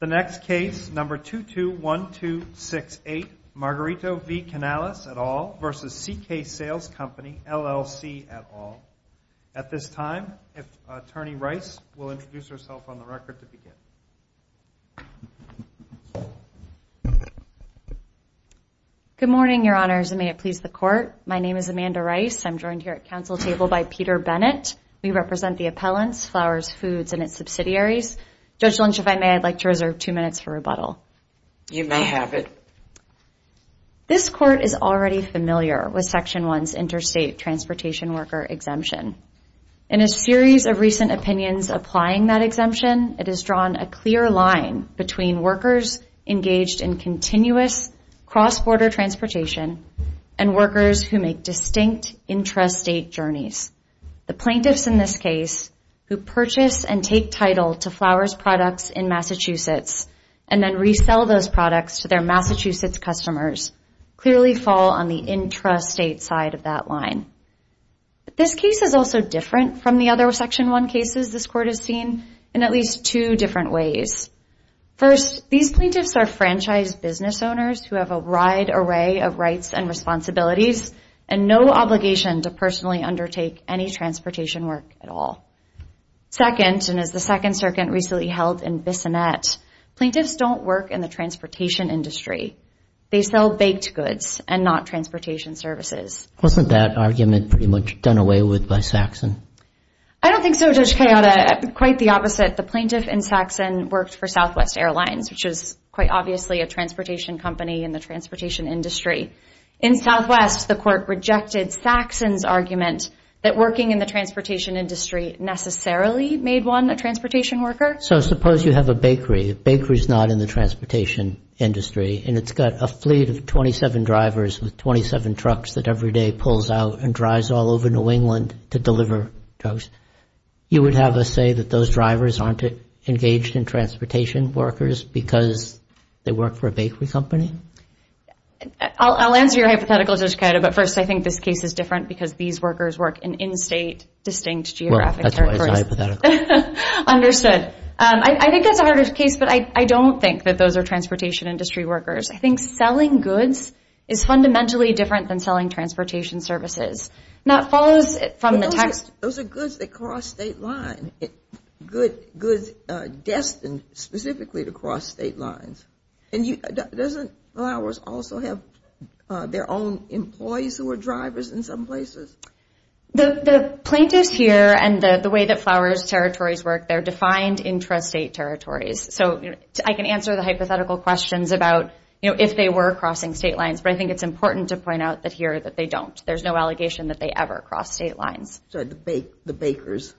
The next case, number 221268, Margarito v. Canales, et al., versus CK Sales Co., LLC, et al. At this time, Attorney Rice will introduce herself on the record to begin. Good morning, your honors, and may it please the court. My name is Amanda Rice. I'm joined here at council table by Peter Bennett. We represent the appellants, Flowers Foods, and its subsidiaries. Judge Lynch, if I may, I'd like to reserve two minutes for rebuttal. You may have it. This court is already familiar with Section 1's interstate transportation worker exemption. In a series of recent opinions applying that exemption, it has drawn a clear line between workers engaged in continuous cross-border transportation and workers who make distinct intrastate journeys. The plaintiffs in this case who purchase and take title to Flowers Products in Massachusetts and then resell those products to their Massachusetts customers clearly fall on the intrastate side of that line. This case is also different from the other Section 1 cases this court has seen in at least two different ways. First, these plaintiffs are franchise business owners who have a wide array of rights and responsibilities and no obligation to personally undertake any transportation work at all. Second, and as the Second Circuit recently held in Bissonnette, plaintiffs don't work in the transportation industry. They sell baked goods and not transportation services. Wasn't that argument pretty much done away with by Saxon? I don't think so, Judge Cayota. Quite the opposite. The plaintiff in Saxon worked for Southwest Airlines, which is quite obviously a transportation company in the transportation industry. In Southwest, the court rejected Saxon's argument that working in the transportation industry necessarily made one a transportation worker. So suppose you have a bakery. A bakery is not in the transportation industry. And it's got a fleet of 27 drivers with 27 trucks that every day pulls out and drives all over New England to deliver drugs. You would have us say that those drivers aren't engaged in transportation workers because they work for a bakery company? I'll answer your hypothetical, Judge Cayota. But first, I think this case is different because these workers work in in-state, distinct, geographic territories. Well, that's why it's hypothetical. Understood. I think that's a harder case, but I don't think that those are transportation industry workers. I think selling goods is fundamentally different than selling transportation services. Now, it follows from the text. Those are goods that cross state line, goods destined specifically to cross state lines. And doesn't Flowers also have their own employees who are drivers in some places? The plaintiffs here and the way that Flowers territories work, they're defined intrastate territories. So I can answer the hypothetical questions about if they were crossing state lines. But I think it's important to point out that here that they don't. There's no allegation that they ever cross state lines. So the bakers,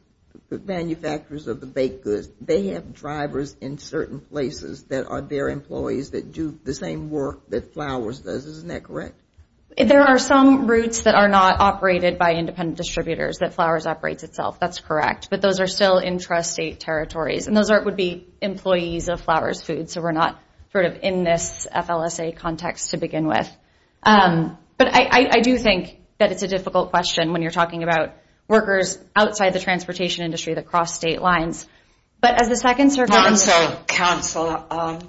the manufacturers of the baked goods, they have drivers in certain places that are their employees that do the same work that Flowers does, isn't that correct? There are some routes that are not operated by independent distributors that Flowers operates itself. That's correct. But those are still intrastate territories. And those would be employees of Flowers Foods. So we're not in this FLSA context to begin with. But I do think that it's a difficult question when you're talking about workers outside the transportation industry that cross state lines. But as the second circuit. Counsel,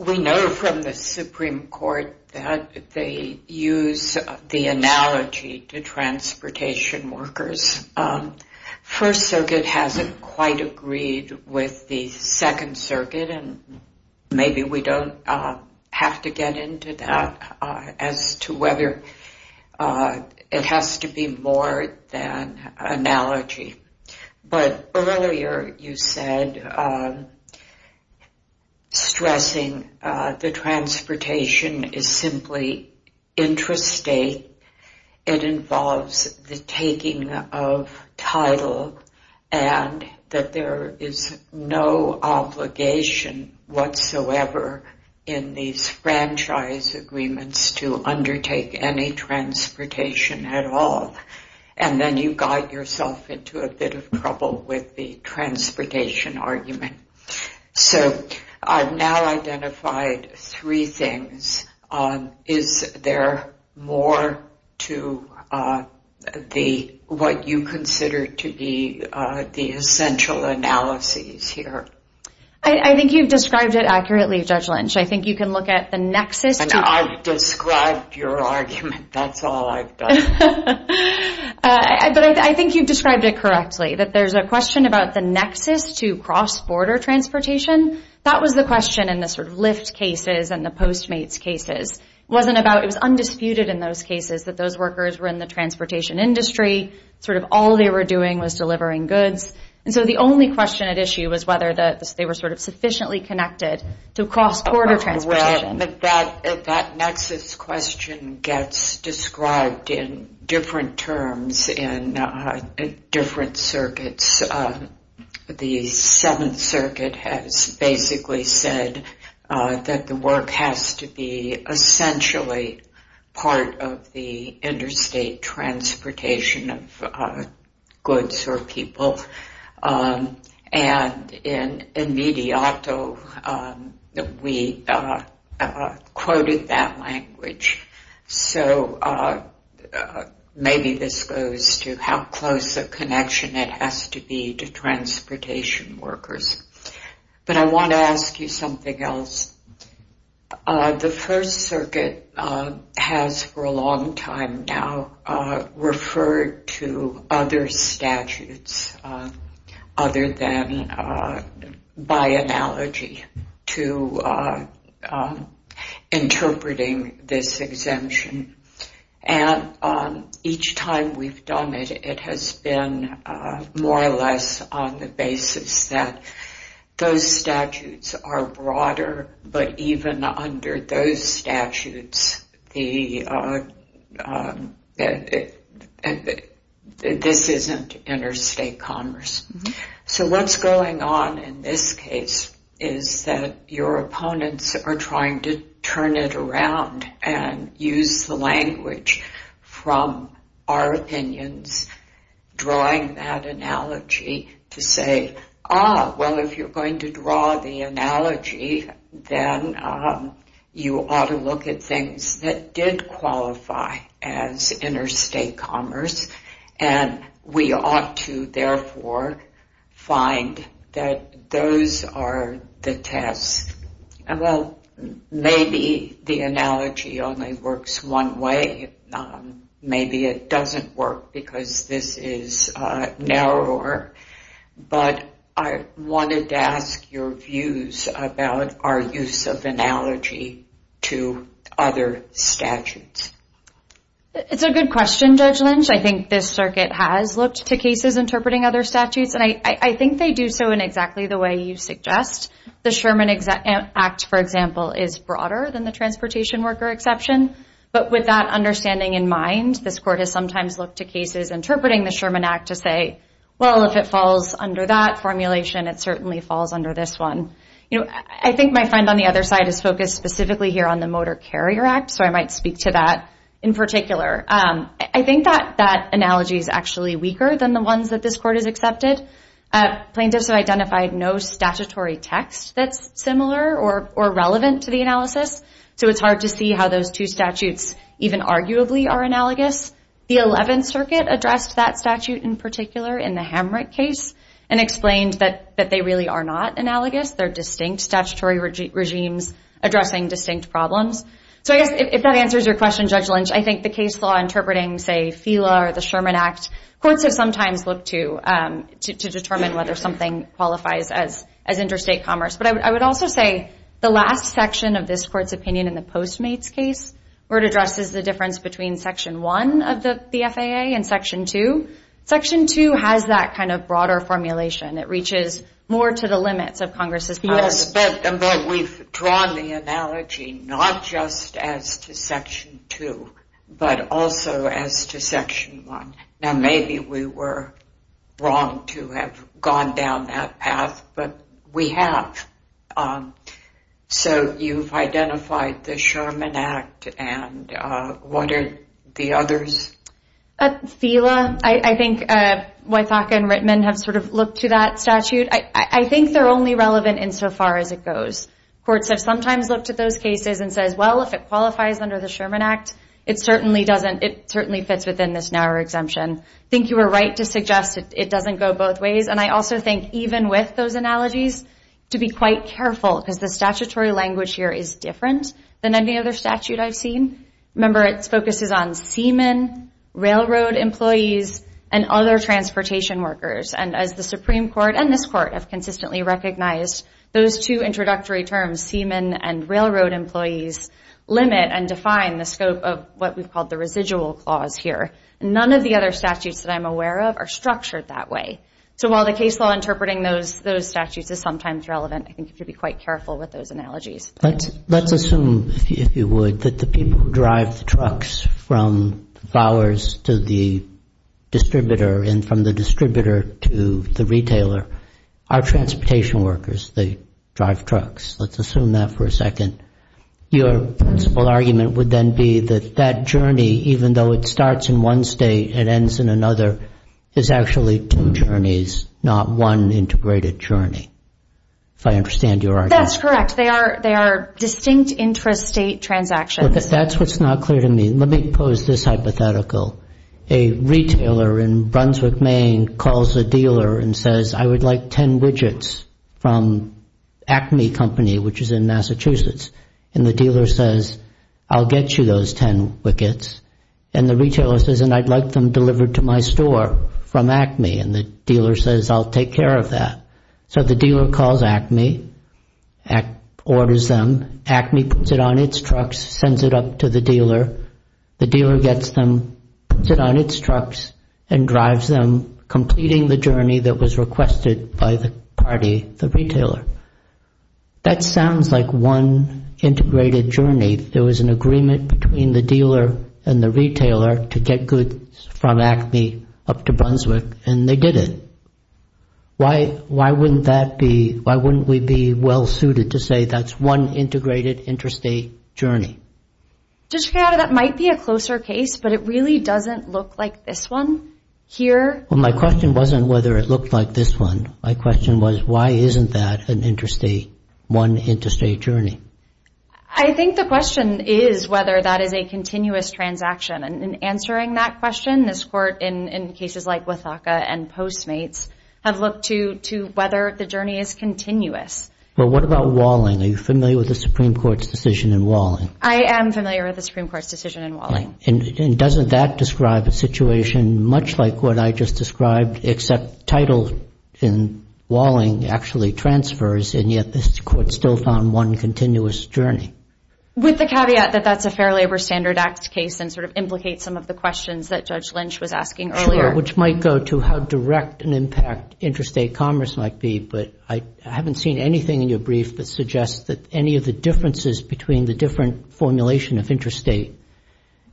we know from the Supreme Court that they use the analogy to transportation workers. First Circuit hasn't quite agreed with the Second Circuit. And maybe we don't have to get into that as to whether it has to be more than analogy. But earlier you said, stressing the transportation is simply intrastate. It involves the taking of title. And that there is no obligation whatsoever in these franchise agreements to undertake any transportation at all. And then you got yourself into a bit of trouble with the transportation argument. So I've now identified three things. Is there more to what you consider to be the essential analyses here? I think you've described it accurately, Judge Lynch. I think you can look at the nexus. I've described your argument. That's all I've done. But I think you've described it correctly, that there's a question about the nexus to cross-border transportation. That was the question in the sort of Lyft cases and the Postmates cases. Wasn't about, it was undisputed in those cases that those workers were in the transportation industry. Sort of all they were doing was delivering goods. And so the only question at issue was whether they were sort of sufficiently connected to cross-border transportation. Well, that nexus question gets described in different terms in different circuits. The Seventh Circuit has basically said that the work has to be essentially part of the interstate transportation of goods or people. And in Mediato, we quoted that language. So maybe this goes to how close a connection it has to be to transportation workers. But I want to ask you something else. The First Circuit has, for a long time now, referred to other statutes other than by analogy to interpreting this exemption. And each time we've done it, it has been more or less on the basis that those statutes are broader. But even under those statutes, this isn't interstate commerce. So what's going on in this case is that your opponents are trying to turn it around and use the language from our opinions, drawing that analogy to say, ah, well, if you're going to draw the analogy, then you ought to look at things that did qualify as interstate commerce. And we ought to, therefore, find that those are the tests. And well, maybe the analogy only works one way. Maybe it doesn't work because this is narrower. But I wanted to ask your views about our use of analogy to other statutes. It's a good question, Judge Lynch. I think this circuit has looked to cases interpreting other statutes. And I think they do so in exactly the way you suggest. The Sherman Act, for example, is broader than the transportation worker exception. But with that understanding in mind, this court has sometimes looked to cases interpreting the Sherman Act to say, well, if it falls under that formulation, it certainly falls under this one. I think my friend on the other side is focused specifically here on the Motor Carrier Act. So I might speak to that in particular. I think that that analogy is actually weaker than the ones that this court has accepted. Plaintiffs have identified no statutory text that's similar or relevant to the analysis. So it's hard to see how those two statutes even arguably are analogous. The 11th Circuit addressed that statute in particular in the Hamrick case and explained that they really are not analogous. They're distinct statutory regimes addressing distinct problems. So I guess if that answers your question, Judge Lynch, I think the case law interpreting, say, FELA or the Sherman Act, courts have sometimes looked to determine whether something qualifies as interstate commerce. But I would also say the last section of this court's opinion in the Postmates case, where it addresses the difference between Section 1 of the FAA and Section 2, Section 2 has that kind of broader formulation. It reaches more to the limits of Congress's powers. Yes, but we've drawn the analogy not just as to Section 2, but also as to Section 1. Now, maybe we were wrong to have gone down that path, but we have. So you've identified the Sherman Act, and what are the others? FELA, I think Wythaka and Rittman have sort of looked to that statute. I think they're only relevant insofar as it goes. Courts have sometimes looked at those cases and says, well, if it qualifies under the Sherman Act, it certainly fits within this narrower exemption. I think you were right to suggest it doesn't go both ways. And I also think, even with those analogies, to be quite careful, because the statutory language here is different than any other statute I've seen. Remember, its focus is on seamen, railroad employees, and other transportation workers. And as the Supreme Court and this court have consistently recognized, those two introductory terms, seamen and railroad employees, limit and define the scope of what we've called the residual clause here. None of the other statutes that I'm aware of are structured that way. So while the case law interpreting those statutes is sometimes relevant, I think you should be quite careful with those analogies. Let's assume, if you would, that the people who drive the trucks from the flowers to the distributor and from the distributor to the retailer are transportation workers. They drive trucks. Let's assume that for a second. Your argument would then be that that journey, even though it starts in one state and ends in another, is actually two journeys, not one integrated journey, if I understand your argument. That's correct. They are distinct intrastate transactions. That's what's not clear to me. Let me pose this hypothetical. A retailer in Brunswick, Maine, calls the dealer and says, I would like 10 widgets from Acme Company, which is in Massachusetts. And the dealer says, I'll get you those 10 widgets. And the retailer says, and I'd like them delivered to my store from Acme. And the dealer says, I'll take care of that. So the dealer calls Acme, orders them. Acme puts it on its trucks, sends it up to the dealer. The dealer gets them, puts it on its trucks, and drives them, completing the journey that was requested by the party, the retailer. That sounds like one integrated journey. There was an agreement between the dealer and the retailer to get goods from Acme up to Brunswick, and they did it. Why wouldn't we be well-suited to say that's one integrated intrastate journey? District Attorney, that might be a closer case, but it really doesn't look like this one here. Well, my question wasn't whether it looked like this one. My question was, why isn't that an intrastate, one intrastate journey? I think the question is whether that is a continuous transaction. And in answering that question, this court, in cases like Withocka and Postmates, have looked to whether the journey is continuous. Well, what about Walling? Are you familiar with the Supreme Court's decision in Walling? I am familiar with the Supreme Court's decision in Walling. And doesn't that describe a situation much like what I just described, except title in Walling actually transfers, and yet this court still found one continuous journey? With the caveat that that's a Fair Labor Standard Act case and sort of implicates some of the questions that Judge Lynch was asking earlier. Sure, which might go to how direct an impact intrastate commerce might be. But I haven't seen anything in your brief that suggests that any of the differences between the different formulation of intrastate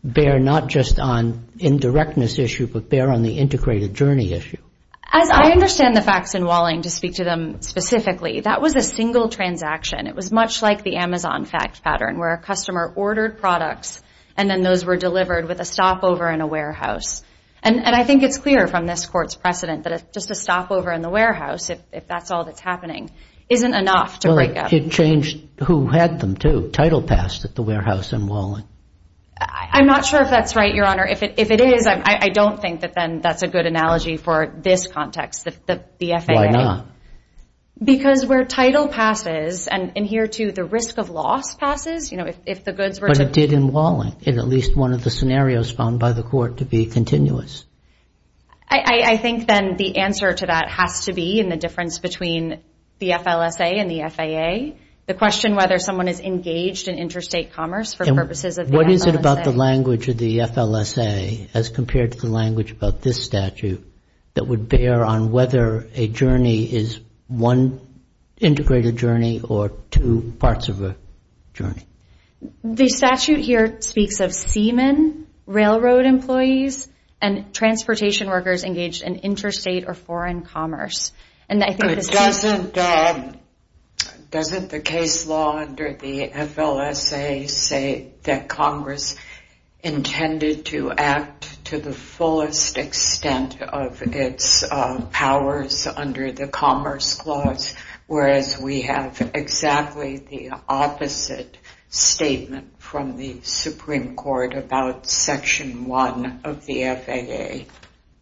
bear not just on indirectness issue, but bear on the integrated journey issue. As I understand the facts in Walling, to speak to them specifically, that was a single transaction. It was much like the Amazon fact pattern, where a customer ordered products and then those were delivered with a stopover in a warehouse. And I think it's clear from this court's precedent that just a stopover in the warehouse, if that's all that's happening, isn't enough to break up. It changed who had them, too. Title passed at the warehouse in Walling. I'm not sure if that's right, Your Honor. If it is, I don't think that then that's a good analogy for this context, the BFAA. Why not? Because where title passes, and in here, too, the risk of loss passes. You know, if the goods were to- But it did in Walling, in at least one of the scenarios found by the court to be continuous. I think then the answer to that has to be in the difference between the FLSA and the FAA. The question whether someone is engaged in intrastate commerce for purposes of the FLSA. What is it about the language of the FLSA, as compared to the language about this statute, that would bear on whether a journey is one integrated journey or two parts of a journey? The statute here speaks of seamen, railroad employees, and transportation workers engaged in interstate or foreign commerce. And I think this is- Doesn't the case law under the FLSA say that Congress intended to act to the fullest extent of its powers under the Commerce Clause, whereas we have exactly the opposite statement from the Supreme Court about Section 1 of the FAA?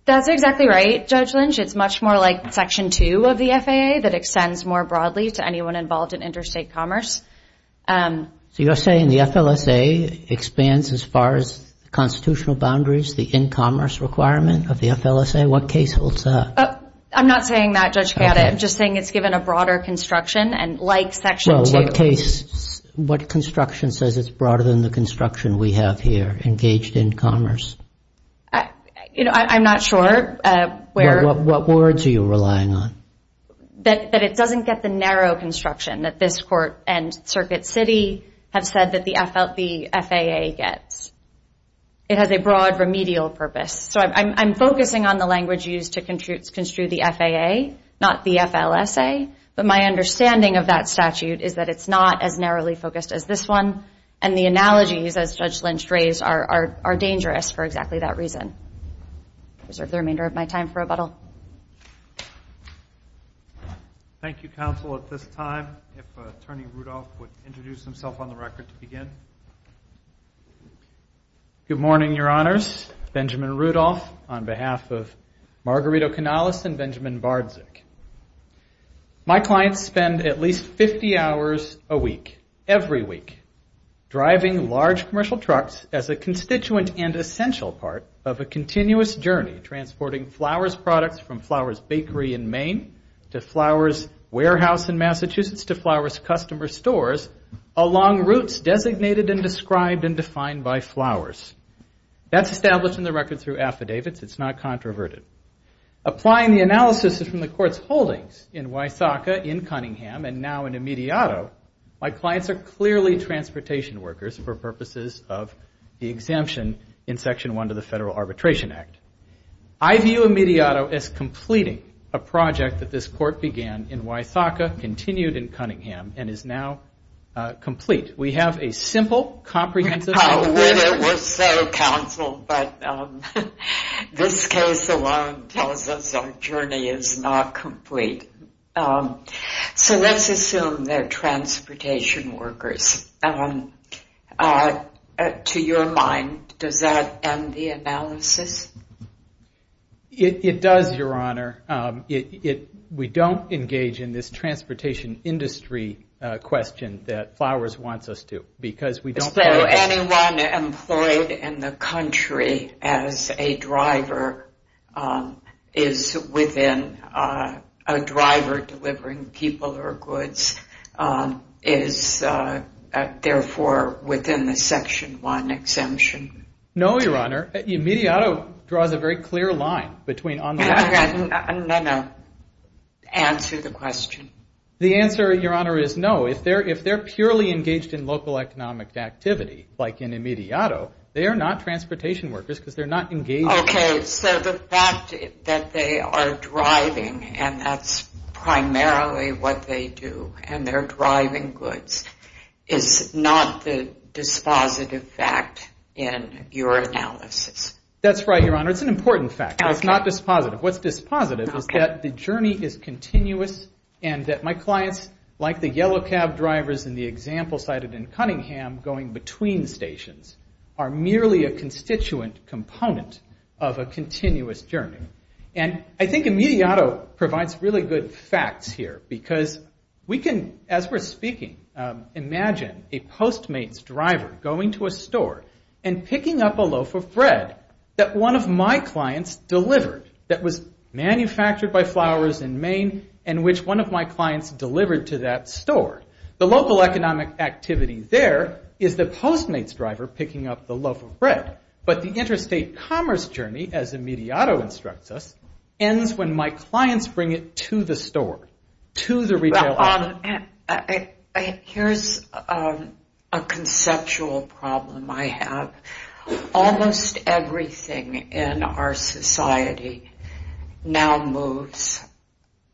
That's exactly right, Judge Lynch. It's much more like Section 2 of the FAA that extends more broadly to anyone involved in interstate commerce. So you're saying the FLSA expands as far as constitutional boundaries, the in-commerce requirement of the FLSA? What case holds that? I'm not saying that, Judge Kaddas. I'm just saying it's given a broader construction, and like Section 2. Well, what construction says it's broader than the construction we have here, engaged in commerce? I'm not sure. What words are you relying on? That it doesn't get the narrow construction that this Court and Circuit City have said that the FAA gets. It has a broad remedial purpose. So I'm focusing on the language used to construe the FAA, not the FLSA. But my understanding of that statute is that it's not as narrowly focused as this one, and the analogies, as Judge Lynch raised, are dangerous for exactly that reason. I reserve the remainder of my time for rebuttal. Thank you, counsel. At this time, if Attorney Rudolph would introduce himself on the record to begin. Good morning, Your Honors. Benjamin Rudolph on behalf of Margarito Canales and Benjamin Bardzik. My clients spend at least 50 hours a week, every week, driving large commercial trucks as a constituent and essential part of a continuous journey transporting flowers, products, and services from Flowers Bakery in Maine, to Flowers Warehouse in Massachusetts, to Flowers Customer Stores, along routes designated and described and defined by Flowers. That's established in the record through affidavits. It's not controverted. Applying the analysis from the Court's holdings in Wysocka, in Cunningham, and now in Imediato, my clients are clearly transportation workers for purposes of the exemption in Section 1 to the Federal Arbitration Act. I view Imediato as completing a project that this court began in Wysocka, continued in Cunningham, and is now complete. We have a simple, comprehensive- How would it, we'll say, counsel, but this case alone tells us our journey is not complete. So let's assume they're transportation workers. To your mind, does that end the analysis? It does, Your Honor. We don't engage in this transportation industry question that Flowers wants us to, because we don't- Is there anyone employed in the country as a driver, is within a driver delivering people or goods, is, therefore, within the Section 1 exemption? No, Your Honor. Imediato draws a very clear line between- I'm going to answer the question. The answer, Your Honor, is no. If they're purely engaged in local economic activity, like in Imediato, they are not transportation workers, because they're not engaged- So the fact that they are driving, and that's primarily what they do, and they're driving goods, is not the dispositive fact in your analysis? That's right, Your Honor. It's an important fact. It's not dispositive. What's dispositive is that the journey is continuous, and that my clients, like the yellow cab drivers in the example cited in Cunningham, going between stations, are merely a constituent component of a continuous journey. And I think Imediato provides really good facts here, because we can, as we're speaking, imagine a Postmates driver going to a store and picking up a loaf of bread that one of my clients delivered, that was manufactured by Flowers in Maine, and which one of my clients delivered to that store. The local economic activity there is the Postmates driver picking up the loaf of bread. But the interstate commerce journey, as Imediato instructs us, ends when my clients bring it to the store, to the retailer. Here's a conceptual problem I have. Almost everything in our society now moves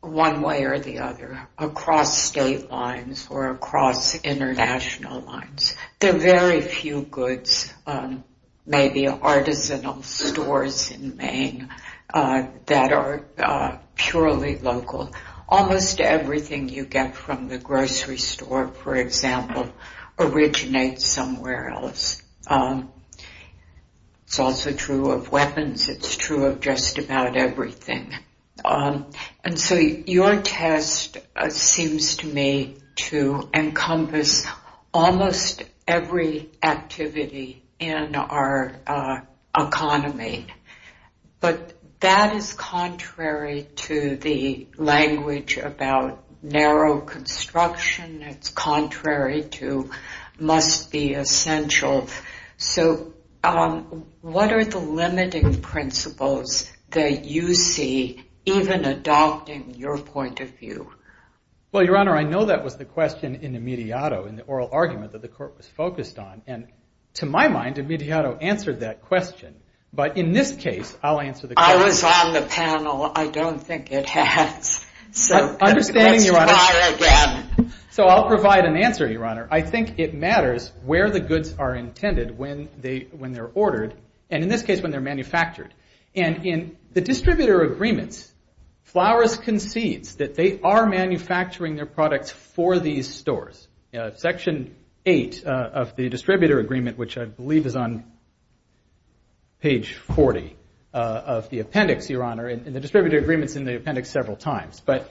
one way or the other across state lines or across international lines. There are very few goods, maybe artisanal stores in Maine, that are purely local. Almost everything you get from the grocery store, for example, originates somewhere else. It's also true of weapons. It's true of just about everything. And so your test seems to me to encompass almost every activity in our economy. But that is contrary to the language about narrow construction. It's contrary to must be essential. So what are the limiting principles that you see even adopting your point of view? Well, Your Honor, I know that was the question Imediato in the oral argument that the court was focused on. And to my mind, Imediato answered that question. But in this case, I'll answer the question. I was on the panel. I don't think it has. Understanding, Your Honor, so I'll provide an answer, Your Honor. I think it matters where the goods are intended when they're ordered, and in this case, when they're manufactured. And in the distributor agreements, Flowers concedes that they are manufacturing their products for these stores. Section 8 of the distributor agreement, which I believe is on page 40 of the appendix, Your Honor, and the distributor agreement's in the appendix several times. But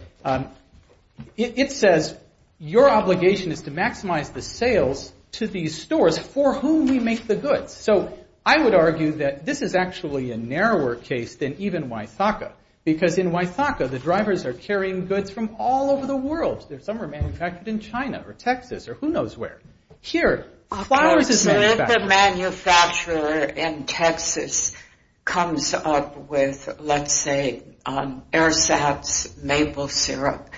it says, your obligation is to maximize the sales to these stores for whom we make the goods. So I would argue that this is actually a narrower case than even Huaythaca. Because in Huaythaca, the drivers are carrying goods from all over the world. Some are manufactured in China, or Texas, or who knows where. Here, Flowers is manufacturing. If a manufacturer in Texas comes up with, let's say, AirSats maple syrup,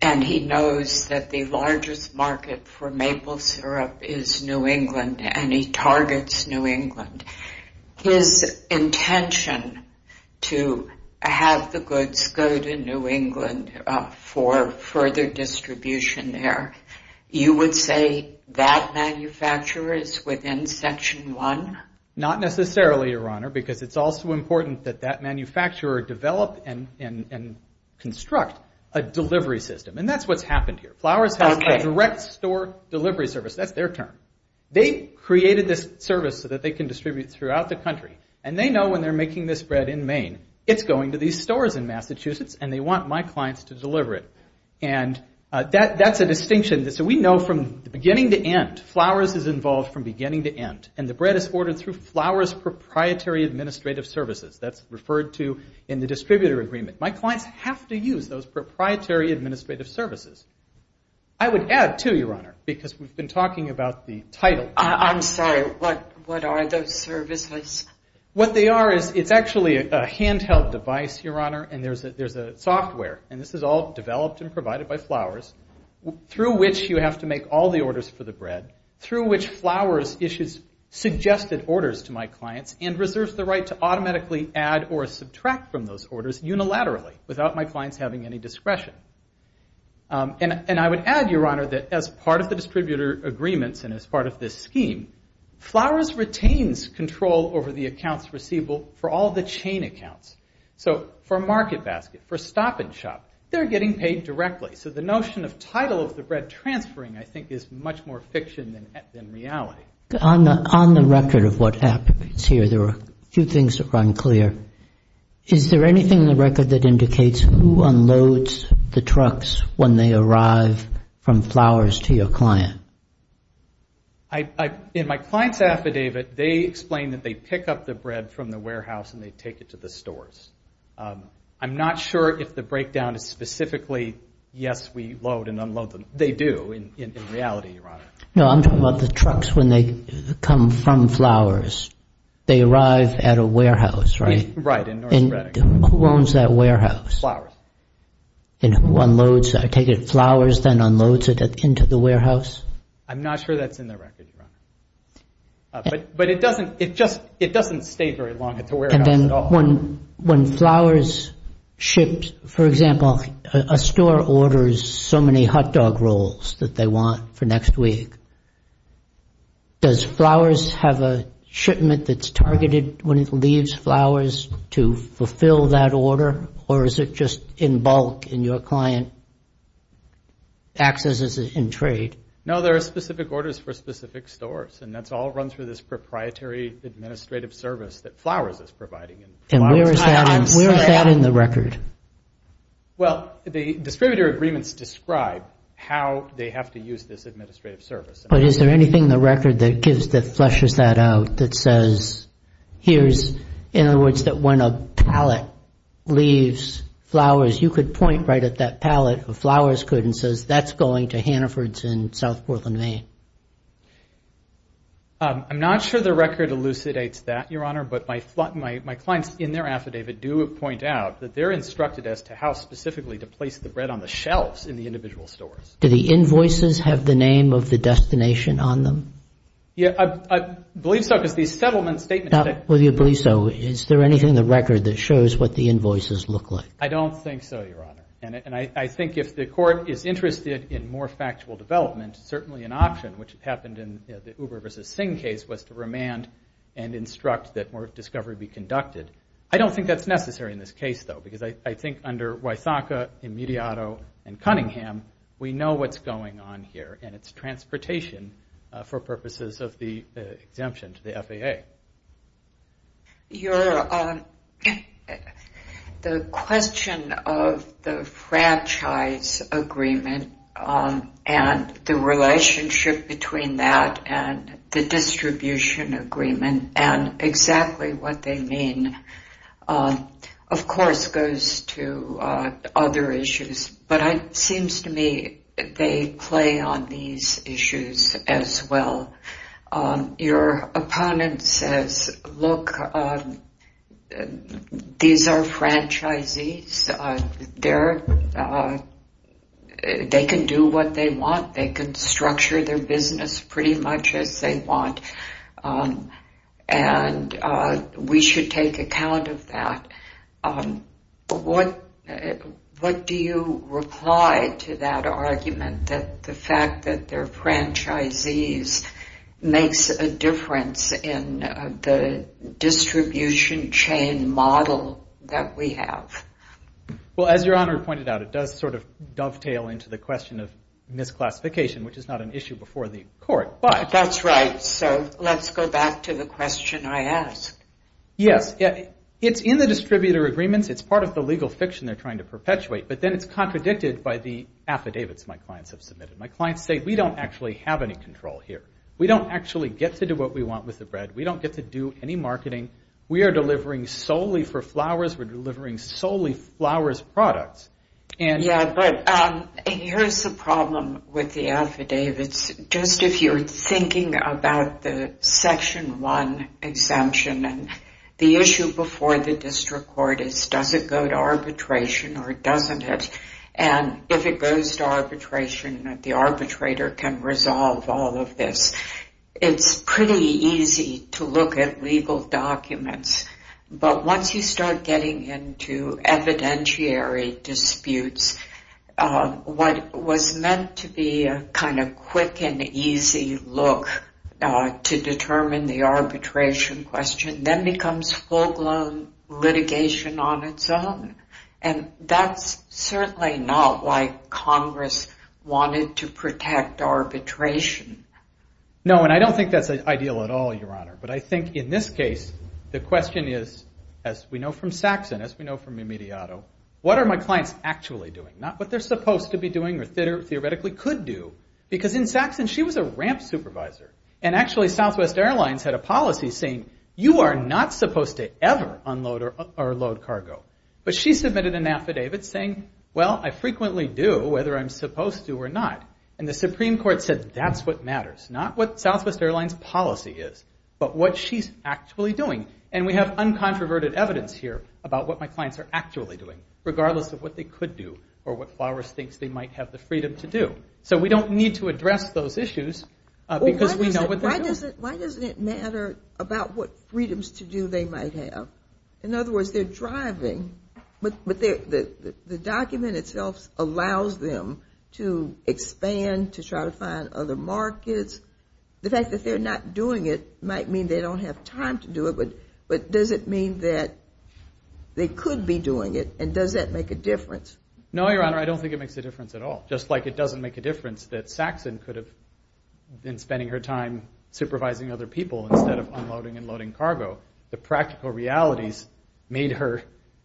and he knows that the largest market for maple syrup is New England, and he targets New England, his intention to have the goods go to New England for further distribution there, you would say that manufacturer is within Section 1? Not necessarily, Your Honor, because it's also important that that manufacturer develop and construct a delivery system. And that's what's happened here. Flowers has a direct store delivery service. That's their term. They created this service so that they can distribute throughout the country. And they know when they're making this bread in Maine, it's going to these stores in Massachusetts, and they want my clients to deliver it. And that's a distinction. So we know from the beginning to end, Flowers is involved from beginning to end. And the bread is ordered through Flowers Proprietary Administrative Services. That's referred to in the distributor agreement. My clients have to use those proprietary administrative services. I would add, too, Your Honor, because we've been talking about the title. I'm sorry, what are those services? What they are is it's actually a handheld device, Your Honor, and there's a software. And this is all developed and provided by Flowers, through which you have to make all the orders for the bread, through which Flowers issues suggested orders to my clients and reserves the right to automatically add or subtract from those orders unilaterally without my clients having any discretion. And I would add, Your Honor, that as part of the distributor agreements and as part of this scheme, Flowers retains control over the accounts receivable for all the chain accounts. So for a market basket, for a stop and shop, they're getting paid directly. So the notion of title of the bread transferring, I think, is much more fiction than reality. On the record of what happens here, there are a few things that are unclear. Is there anything in the record that indicates who unloads the trucks when they arrive from Flowers to your client? In my client's affidavit, they explain that they pick up the bread from the warehouse and they take it to the stores. I'm not sure if the breakdown is specifically, yes, we load and unload them. They do in reality, Your Honor. No, I'm talking about the trucks when they come from Flowers. They arrive at a warehouse, right? Right, in North Shredder. Who owns that warehouse? Flowers. And who unloads, I take it, Flowers then unloads it into the warehouse? I'm not sure that's in the record, Your Honor. But it doesn't stay very long at the warehouse at all. When Flowers ships, for example, a store orders so many hot dog rolls that they want for next week, does Flowers have a shipment that's targeted when it leaves Flowers to fulfill that order? Or is it just in bulk and your client accesses it in trade? No, there are specific orders for specific stores. And that's all run through this proprietary administrative service that Flowers is providing. And where is that in the record? Well, the distributor agreements describe how they have to use this administrative service. But is there anything in the record that flushes that out, that says, here's, in other words, that when a pallet leaves Flowers, you could point right at that pallet, or Flowers could, and says that's going to Hannaford's in South Portland, Maine. I'm not sure the record elucidates that, Your Honor. But my clients in their affidavit do point out that they're instructed as to how specifically to place the bread on the shelves in the individual stores. Do the invoices have the name of the destination on them? Yeah, I believe so, because these settlement statements say it. Well, you believe so. Is there anything in the record that shows what the invoices look like? I don't think so, Your Honor. And I think if the court is interested in more factual development, certainly an option, which happened in the Uber versus Sing case, was to remand and instruct that more discovery be conducted. I don't think that's necessary in this case, though. Because I think under Wythaka, Immediato, and Cunningham, we know what's going on here. And it's transportation for purposes of the exemption to the FAA. Your Honor, the question of the franchise agreement and the relationship between that and the distribution agreement and exactly what they mean, of course, goes to other issues. But it seems to me they play on these issues as well. Your opponent says, look, these are franchisees. They can do what they want. They can structure their business pretty much as they want. And we should take account of that. What do you reply to that argument, that the fact that they're franchisees makes a difference in the distribution chain model that we have? Well, as Your Honor pointed out, it does sort of dovetail into the question of misclassification, which is not an issue before the court. That's right. So let's go back to the question I asked. Yes. It's in the distributor agreements. It's part of the legal fiction they're trying to perpetuate. But then it's contradicted by the affidavits my clients have submitted. My clients say, we don't actually have any control here. We don't actually get to do what we want with the bread. We don't get to do any marketing. We are delivering solely for flowers. We're delivering solely flowers products. Yeah, but here's the problem with the affidavits. Just if you're thinking about the Section 1 exemption, the issue before the district court is does it go to arbitration or doesn't it? And if it goes to arbitration, the arbitrator can resolve all of this. It's pretty easy to look at legal documents. But once you start getting into evidentiary disputes, what was meant to be a kind of quick and easy look to determine the arbitration question then becomes full-blown litigation on its own. And that's certainly not why Congress wanted to protect arbitration. No, and I don't think that's ideal at all, Your Honor. But I think in this case the question is, as we know from Saxon, as we know from Immediato, what are my clients actually doing? Not what they're supposed to be doing or theoretically could do. Because in Saxon she was a ramp supervisor. And actually Southwest Airlines had a policy saying you are not supposed to ever unload or load cargo. But she submitted an affidavit saying, well, I frequently do whether I'm supposed to or not. And the Supreme Court said that's what matters, not what Southwest Airlines' policy is, but what she's actually doing. And we have uncontroverted evidence here about what my clients are actually doing, regardless of what they could do or what Flowers thinks they might have the freedom to do. So we don't need to address those issues because we know what they're doing. Why doesn't it matter about what freedoms to do they might have? In other words, they're driving. But the document itself allows them to expand, to try to find other markets. The fact that they're not doing it might mean they don't have time to do it. But does it mean that they could be doing it? And does that make a difference? No, Your Honor. I don't think it makes a difference at all. Just like it doesn't make a difference that Saxon could have been spending her time supervising other people instead of unloading and loading cargo. The practical realities made her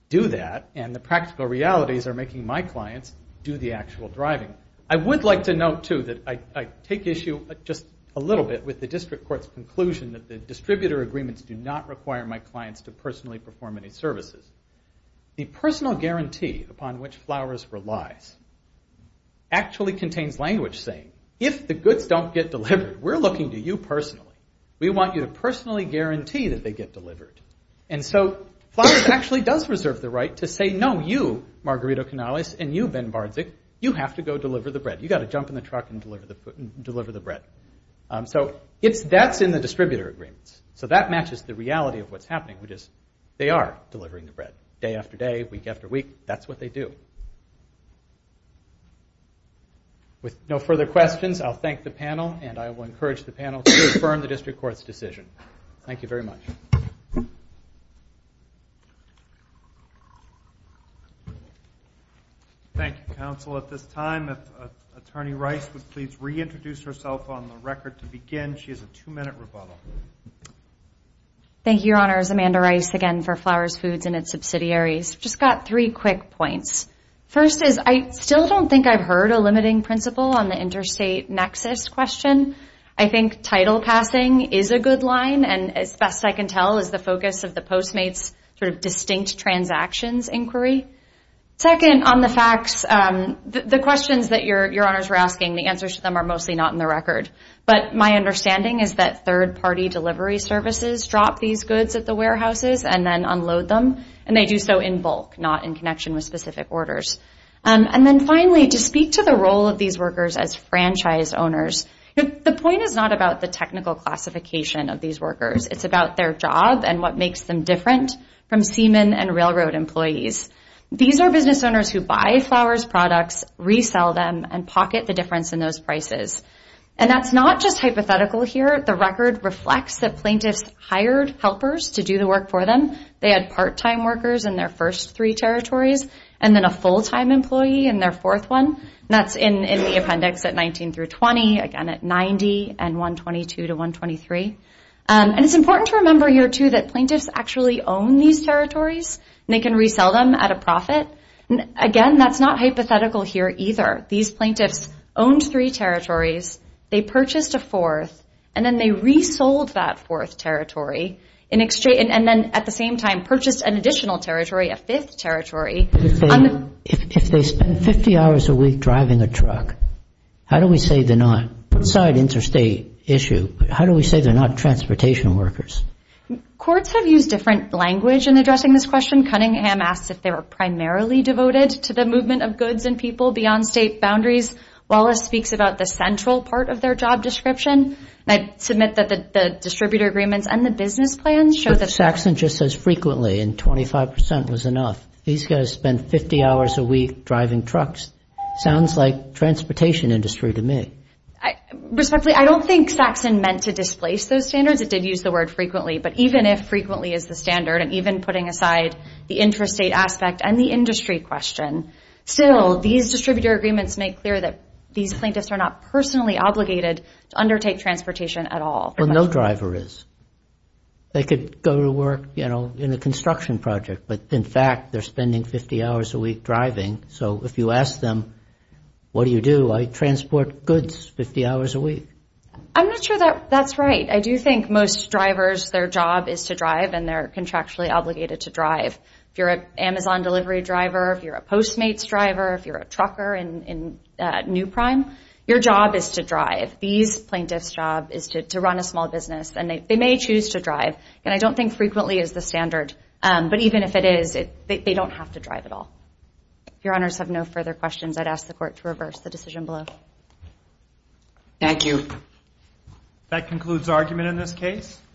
do that, and the practical realities are making my clients do the actual driving. I would like to note, too, that I take issue just a little bit with the District Court's conclusion that the distributor agreements do not require my clients to personally perform any services. The personal guarantee upon which Flowers relies actually contains language saying, if the goods don't get delivered, we're looking to you personally. We want you to personally guarantee that they get delivered. And so Flowers actually does reserve the right to say, no, you, Margarito Canales, and you, Ben Bardzik, you have to go deliver the bread. You've got to jump in the truck and deliver the bread. So that's in the distributor agreements. So that matches the reality of what's happening, which is they are delivering the bread. Day after day, week after week, that's what they do. With no further questions, I'll thank the panel, and I will encourage the panel to affirm the District Court's decision. Thank you very much. Thank you, Counsel. At this time, if Attorney Rice would please reintroduce herself on the record to begin. She has a two-minute rebuttal. Thank you, Your Honors. Amanda Rice again for Flowers Foods and its subsidiaries. Just got three quick points. First is I still don't think I've heard a limiting principle on the interstate nexus question. I think title passing is a good line, and as best I can tell is the focus of the Postmates sort of distinct transactions inquiry. Second, on the facts, the questions that Your Honors were asking, the answers to them are mostly not in the record. But my understanding is that third-party delivery services drop these goods at the warehouses and then unload them, and they do so in bulk, not in connection with specific orders. And then finally, to speak to the role of these workers as franchise owners, the point is not about the technical classification of these workers. It's about their job and what makes them different from seamen and railroad employees. These are business owners who buy Flowers products, resell them, and pocket the difference in those prices. And that's not just hypothetical here. The record reflects that plaintiffs hired helpers to do the work for them. They had part-time workers in their first three territories, and then a full-time employee in their fourth one. And that's in the appendix at 19 through 20, again at 90, and 122 to 123. And it's important to remember here too that plaintiffs actually own these territories, and they can resell them at a profit. Again, that's not hypothetical here either. These plaintiffs owned three territories, they purchased a fourth, and then they resold that fourth territory, and then at the same time If they spend 50 hours a week driving a truck, how do we say they're not, aside interstate issue, how do we say they're not transportation workers? Courts have used different language in addressing this question. Cunningham asks if they were primarily devoted to the movement of goods and people beyond state boundaries. Wallace speaks about the central part of their job description. I submit that the distributor agreements and the business plans show that Saxon just says frequently, and 25% was enough. These guys spend 50 hours a week driving trucks. Sounds like transportation industry to me. Respectfully, I don't think Saxon meant to displace those standards. It did use the word frequently, but even if frequently is the standard, and even putting aside the interstate aspect and the industry question, still these distributor agreements make clear that these plaintiffs are not personally obligated to undertake transportation at all. Well, no driver is. They could go to work, you know, in a construction project, but in fact they're spending 50 hours a week driving, so if you ask them what do you do, I transport goods 50 hours a week. I'm not sure that's right. I do think most drivers, their job is to drive, and they're contractually obligated to drive. If you're an Amazon delivery driver, if you're a Postmates driver, these plaintiffs' job is to run a small business, and they may choose to drive, and I don't think frequently is the standard, but even if it is, they don't have to drive at all. If Your Honors have no further questions, I'd ask the Court to reverse the decision below. Thank you. That concludes argument in this case.